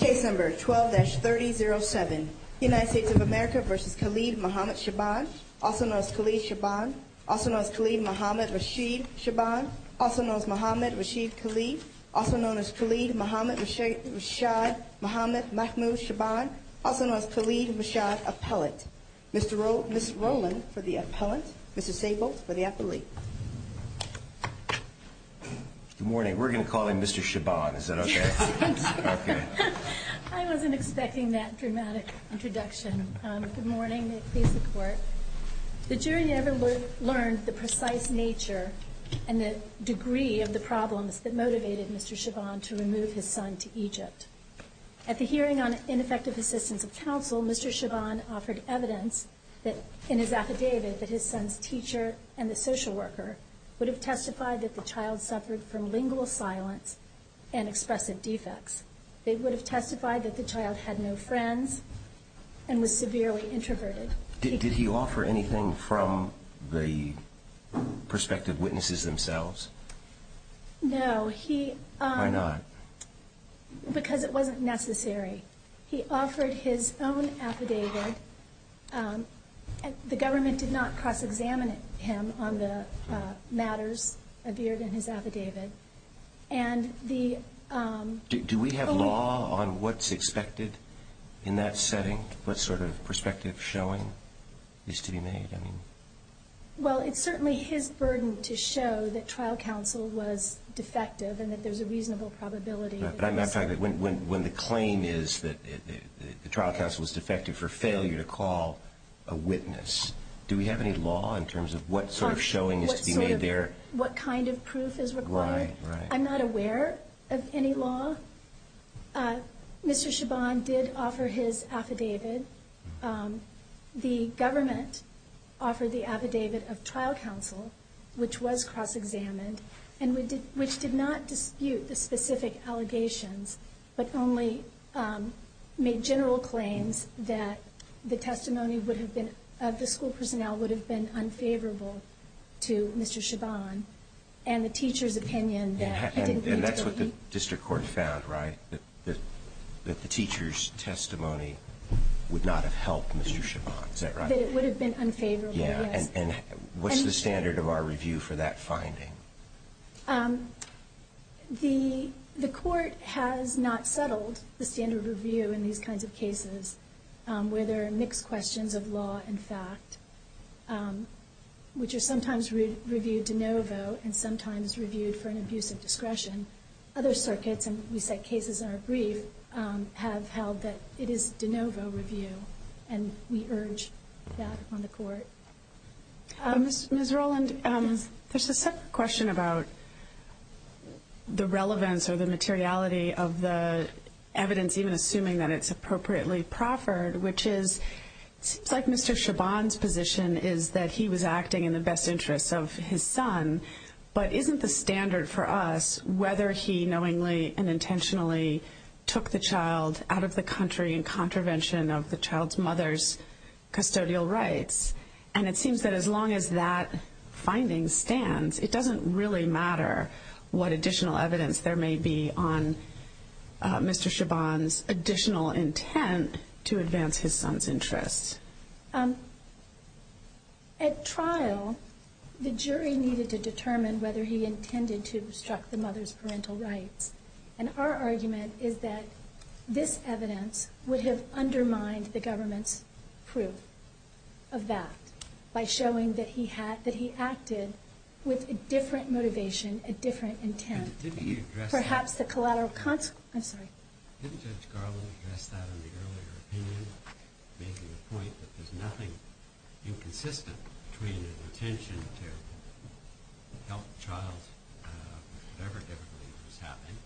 12-3007 United States of America v. Khaled Mohammed Shabban Also known as Khaled Shabban Also known as Khaled Mohammed Rashid Shabban Also known as Mohammed Rashid Khalid Also known as Khaled Mohammed Rashad Mohammed Mahmoud Shabban Also known as Khaled Rashad Appellant Ms. Rowland for the Appellant Mr. Sable for the Appellant Good morning. We're going to call in Mr. Shabban. Is that okay? I wasn't expecting that dramatic introduction. Good morning. May it please the Court. The jury never learned the precise nature and the degree of the problems that motivated Mr. Shabban to remove his son to Egypt. At the hearing on ineffective assistance of counsel, Mr. Shabban offered evidence in his affidavit that his son's teacher and the social worker would have testified that the child suffered from lingual silence and expressive defects. They would have testified that the child had no friends and was severely introverted. Did he offer anything from the perspective of witnesses themselves? No. Why not? Because it wasn't necessary. He offered his own affidavit. The government did not cross-examine him on the matters appeared in his affidavit. Do we have law on what's expected in that setting? What sort of perspective showing is to be made? Well, it's certainly his burden to show that trial counsel was defective and that there's a reasonable probability. When the claim is that the trial counsel was defective for failure to call a witness, do we have any law in terms of what sort of showing is to be made there? What kind of proof is required? I'm not aware of any law. Mr. Shabban did offer his affidavit. The government offered the affidavit of trial counsel, which was cross-examined, which did not dispute the specific allegations but only made general claims that the testimony of the school personnel would have been unfavorable to Mr. Shabban and the teacher's opinion that he didn't need to leave. And that's what the district court found, right? That the teacher's testimony would not have helped Mr. Shabban. Is that right? That it would have been unfavorable, yes. And what's the standard of our review for that finding? The court has not settled the standard of review in these kinds of cases where there are mixed questions of law and fact, which are sometimes reviewed de novo and sometimes reviewed for an abuse of discretion. Other circuits, and we set cases in our brief, have held that it is de novo review, and we urge that on the court. Ms. Roland, there's a separate question about the relevance or the materiality of the evidence, even assuming that it's appropriately proffered, which is, it seems like Mr. Shabban's position is that he was acting in the best interests of his son, but isn't the standard for us whether he knowingly and intentionally took the child out of the country in contravention of the child's mother's custodial rights? And it seems that as long as that finding stands, it doesn't really matter what additional evidence there may be on Mr. Shabban's additional intent to advance his son's interests. At trial, the jury needed to determine whether he intended to obstruct the mother's parental rights. And our argument is that this evidence would have undermined the government's proof of that by showing that he acted with a different motivation, a different intent. Didn't Judge Garland address that in the earlier opinion, making the point that there's nothing inconsistent between an intention to help the child, whatever difficulty that was having,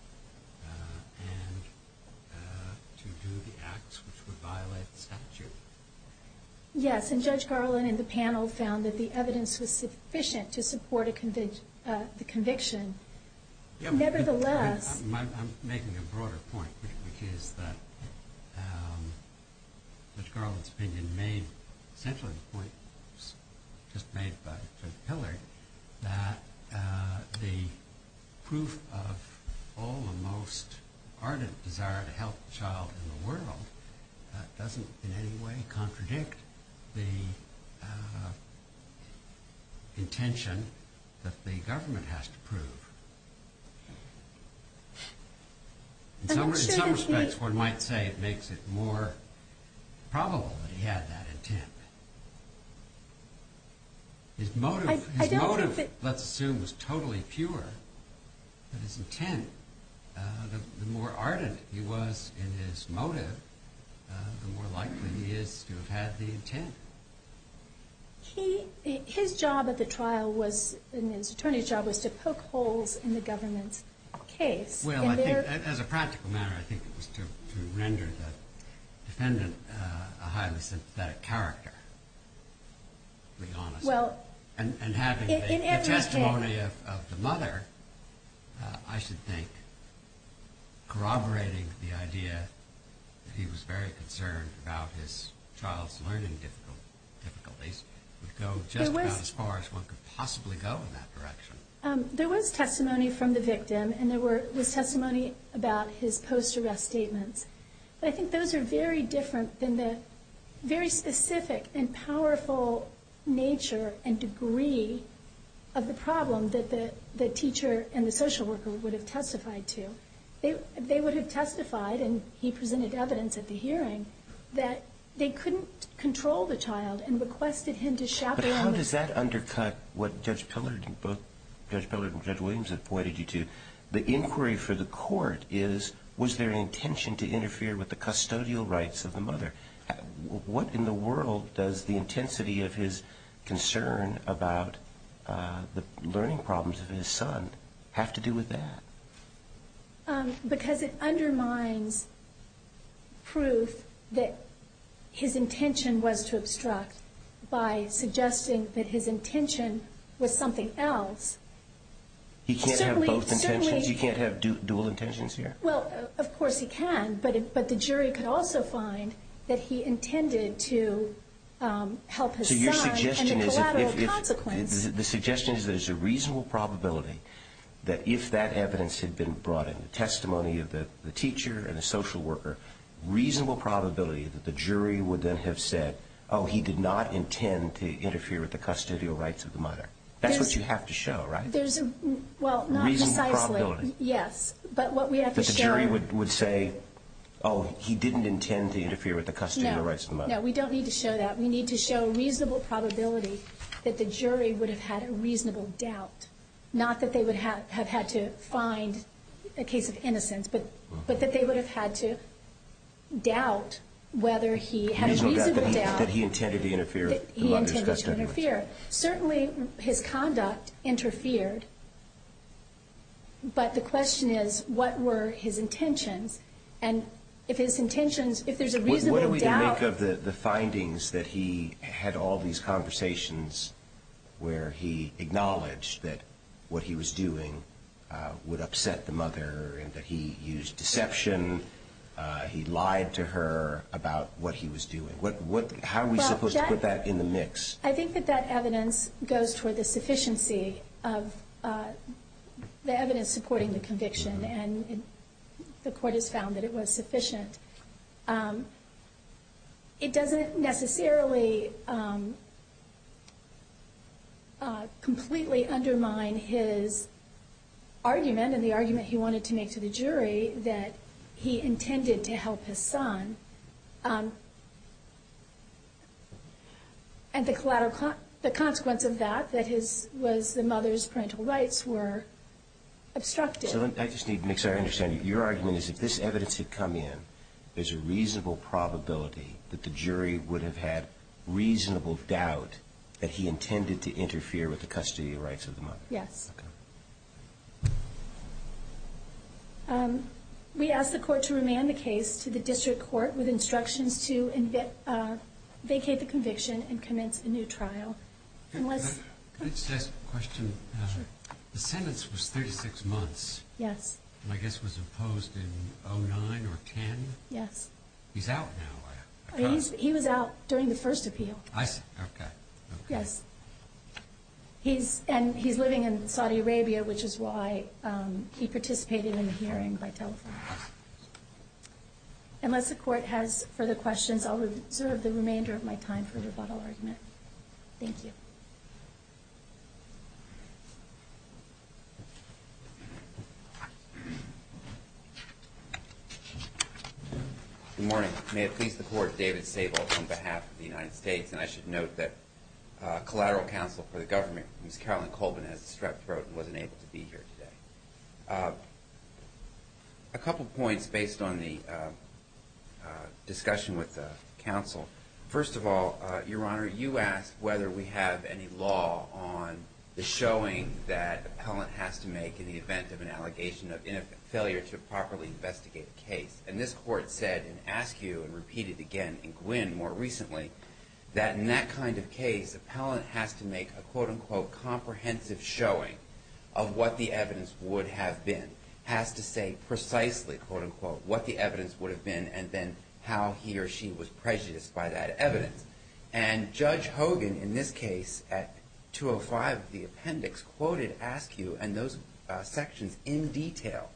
and to do the acts which would violate the statute? Yes, and Judge Garland and the panel found that the evidence was sufficient to support the conviction. Nevertheless... I'm making a broader point, which is that Judge Garland's opinion made, essentially the point just made by Judge Pillard, that the proof of all the most ardent desire to help the child in the world doesn't in any way contradict the intention that the government has to prove. In some respects, one might say it makes it more probable that he had that intent. His motive, let's assume, was totally pure, but his intent, the more ardent he was in his motive, the more likely he is to have had the intent. His job at the trial, and his attorney's job, was to poke holes in the government's case. Well, as a practical matter, I think it was to render the defendant a highly sympathetic character, to be honest. And having the testimony of the mother, I should think corroborating the idea that he was very concerned about his child's learning difficulties, would go just about as far as one could possibly go in that direction. There was testimony from the victim, and there was testimony about his post-arrest statements. I think those are very different than the very specific and powerful nature and degree of the problem that the teacher and the social worker would have testified to. They would have testified, and he presented evidence at the hearing, that they couldn't control the child and requested him to chaperone the child. He interfered with the custodial rights of the mother. What in the world does the intensity of his concern about the learning problems of his son have to do with that? Because it undermines proof that his intention was to obstruct by suggesting that his intention was something else. He can't have both intentions? He can't have dual intentions here? Well, of course he can, but the jury could also find that he intended to help his son. So your suggestion is that there's a reasonable probability that if that evidence had been brought in, the testimony of the teacher and the social worker, reasonable probability that the jury would then have said, oh, he did not intend to interfere with the custodial rights of the mother. That's what you have to show, right? Reasonable probability? Yes. That the jury would say, oh, he didn't intend to interfere with the custodial rights of the mother. No, we don't need to show that. We need to show a reasonable probability that the jury would have had a reasonable doubt. Not that they would have had to find a case of innocence, but that they would have had to doubt whether he had a reasonable doubt that he intended to interfere. Certainly his conduct interfered, but the question is, what were his intentions? And if his intentions, if there's a reasonable doubt. What do we make of the findings that he had all these conversations where he acknowledged that what he was doing would upset the mother, and that he used deception, he lied to her about what he was doing? How are we supposed to put that in the mix? I think that that evidence goes toward the sufficiency of the evidence supporting the conviction, and the court has found that it was sufficient. It doesn't necessarily completely undermine his argument, and the argument he wanted to make to the jury, that he intended to help his son. And the consequence of that, that was the mother's parental rights were obstructed. So I just need to make sure I understand, your argument is if this evidence had come in, there's a reasonable probability that the jury would have had reasonable doubt that he intended to interfere with the custody rights of the mother? Yes. We asked the court to remand the case to the district court with instructions to vacate the conviction and commence a new trial. Can I just ask a question? The sentence was 36 months. Yes. And I guess it was imposed in 2009 or 2010? Yes. He's out now. He was out during the first appeal. I see, okay. Yes. And he's living in Saudi Arabia, which is why he participated in the hearing by telephone. Unless the court has further questions, I'll reserve the remainder of my time for a rebuttal argument. Thank you. Good morning. May it please the court, David Sable on behalf of the United States. And I should note that collateral counsel for the government, Ms. Carolyn Colvin, has strep throat and wasn't able to be here today. A couple points based on the discussion with the counsel. First of all, Your Honor, you asked whether we have any law on the showing that appellant has to make in the event of an allegation of failure to properly investigate a case. And this court said in Askew and repeated again in Gwin more recently, that in that kind of case, appellant has to make a, quote, unquote, comprehensive showing of what the evidence would have been. Has to say precisely, quote, unquote, what the evidence would have been and then how he or she was prejudiced by that evidence. And Judge Hogan, in this case, at 205 of the appendix, quoted Askew and those sections in detail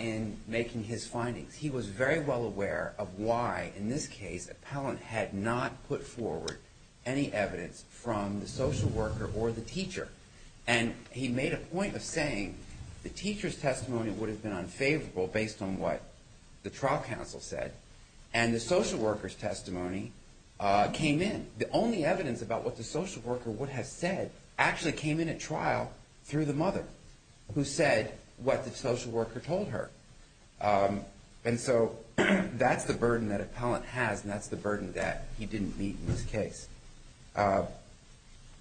in making his findings. He was very well aware of why, in this case, appellant had not put forward any evidence from the social worker or the teacher. And he made a point of saying the teacher's testimony would have been unfavorable based on what the trial counsel said. And the social worker's testimony came in. The only evidence about what the social worker would have said actually came in at trial through the mother, who said what the social worker told her. And so that's the burden that appellant has, and that's the burden that he didn't meet in this case.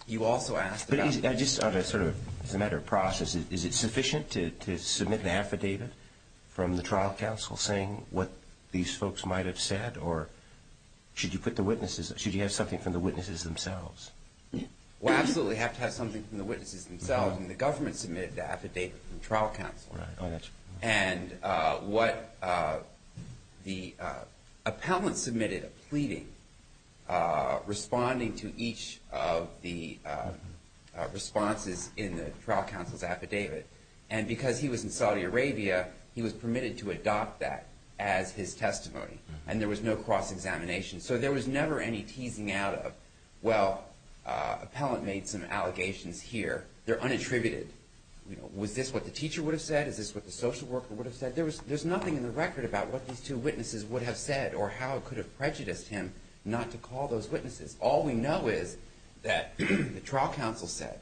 You also asked about- I just sort of, as a matter of process, is it sufficient to submit the affidavit from the trial counsel saying what these folks might have said? Or should you put the witnesses- should you have something from the witnesses themselves? Well, absolutely, you have to have something from the witnesses themselves. And the government submitted the affidavit from the trial counsel. Oh, that's right. And what the appellant submitted a pleading responding to each of the responses in the trial counsel's affidavit. And because he was in Saudi Arabia, he was permitted to adopt that as his testimony. And there was no cross-examination. So there was never any teasing out of, well, appellant made some allegations here. They're unattributed. Was this what the teacher would have said? Is this what the social worker would have said? There's nothing in the record about what these two witnesses would have said or how it could have prejudiced him not to call those witnesses. All we know is that the trial counsel said,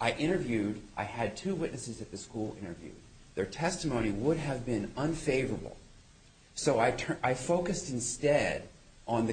I interviewed- I had two witnesses at the school interviewed. Their testimony would have been unfavorable. And the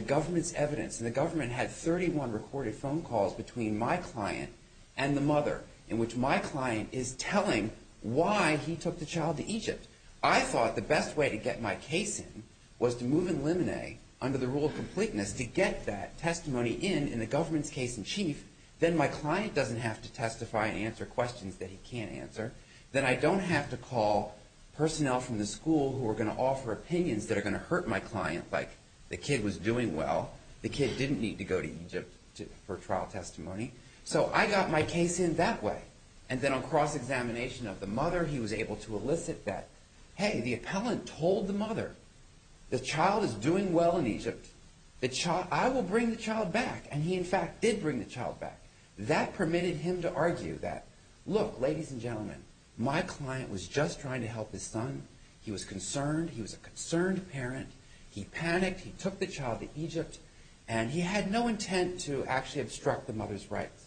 government had 31 recorded phone calls between my client and the mother, in which my client is telling why he took the child to Egypt. I thought the best way to get my case in was to move in limine under the rule of completeness to get that testimony in in the government's case in chief. Then my client doesn't have to testify and answer questions that he can't answer. Then I don't have to call personnel from the school who are going to offer opinions that are going to hurt my client, like the kid was doing well. The kid didn't need to go to Egypt for trial testimony. So I got my case in that way. And then on cross-examination of the mother, he was able to elicit that, hey, the appellant told the mother, the child is doing well in Egypt. I will bring the child back. And he, in fact, did bring the child back. That permitted him to argue that, look, ladies and gentlemen, my client was just trying to help his son. He was concerned. He was a concerned parent. He panicked. He took the child to Egypt. And he had no intent to actually obstruct the mother's rights.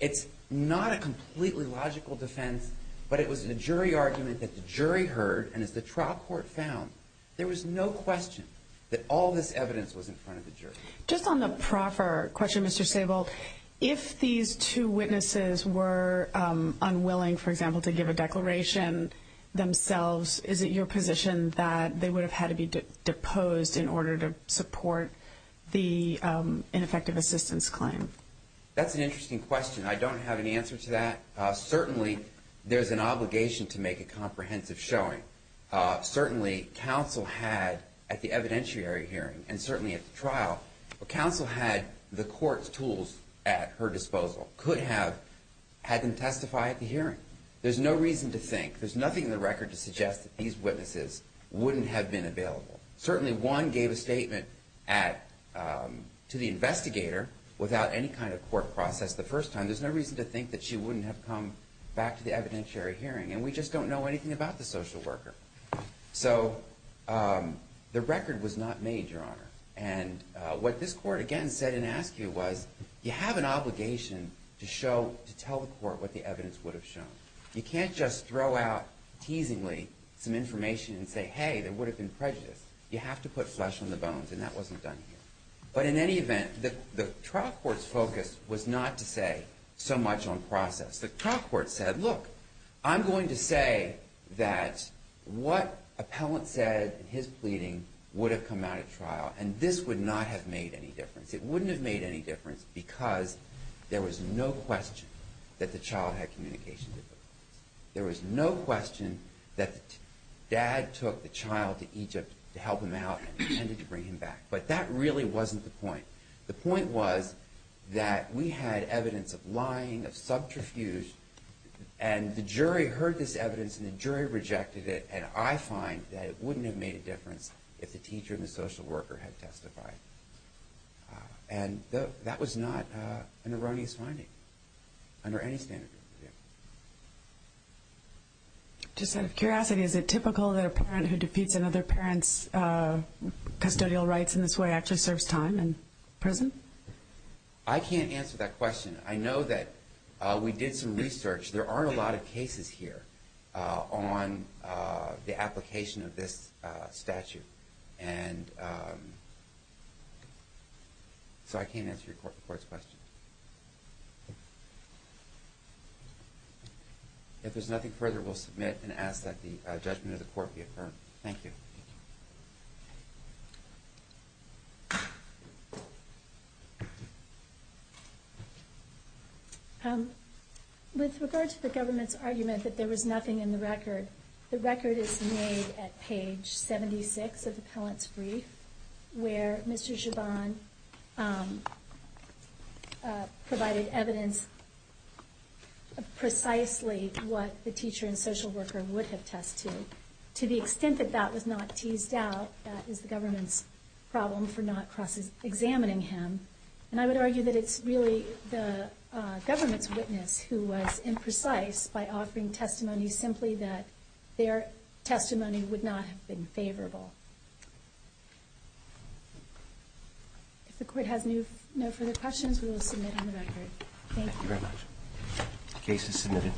It's not a completely logical defense, but it was a jury argument that the jury heard. And as the trial court found, there was no question that all this evidence was in front of the jury. Just on the proffer question, Mr. Sable, if these two witnesses were unwilling, for example, to give a declaration themselves, is it your position that they would have had to be deposed in order to support the ineffective assistance claim? That's an interesting question. I don't have an answer to that. Certainly there's an obligation to make a comprehensive showing. Certainly counsel had at the evidentiary hearing and certainly at the trial, counsel had the court's tools at her disposal, could have had them testify at the hearing. There's no reason to think, there's nothing in the record to suggest that these witnesses wouldn't have been available. Certainly one gave a statement to the investigator without any kind of court process the first time. There's no reason to think that she wouldn't have come back to the evidentiary hearing. And we just don't know anything about the social worker. So the record was not made, Your Honor. And what this court, again, said and asked you was you have an obligation to show, to tell the court what the evidence would have shown. You can't just throw out teasingly some information and say, hey, there would have been prejudice. You have to put flesh on the bones. And that wasn't done here. But in any event, the trial court's focus was not to say so much on process. The trial court said, look, I'm going to say that what appellant said in his pleading would have come out at trial. And this would not have made any difference. It wouldn't have made any difference because there was no question that the child had communication difficulties. There was no question that dad took the child to Egypt to help him out and intended to bring him back. But that really wasn't the point. The point was that we had evidence of lying, of subterfuge, and the jury heard this evidence and the jury rejected it. And I find that it wouldn't have made a difference if the teacher and the social worker had testified. And that was not an erroneous finding under any standard. Just out of curiosity, is it typical that a parent who defeats another parent's custodial rights in this way actually serves time in prison? I can't answer that question. I know that we did some research. There aren't a lot of cases here on the application of this statute. And so I can't answer your court's question. If there's nothing further, we'll submit and ask that the judgment of the court be affirmed. Thank you. With regard to the government's argument that there was nothing in the record, the record is made at page 76 of the appellant's brief, where Mr. Zhaban provided evidence of precisely what the teacher and social worker would have tested. To the extent that that was not teased out, that is the government's problem for not examining him. And I would argue that it's really the government's witness who was imprecise by offering testimony simply that their testimony would not have been favorable. If the court has no further questions, we will submit on the record. Thank you. The case is submitted.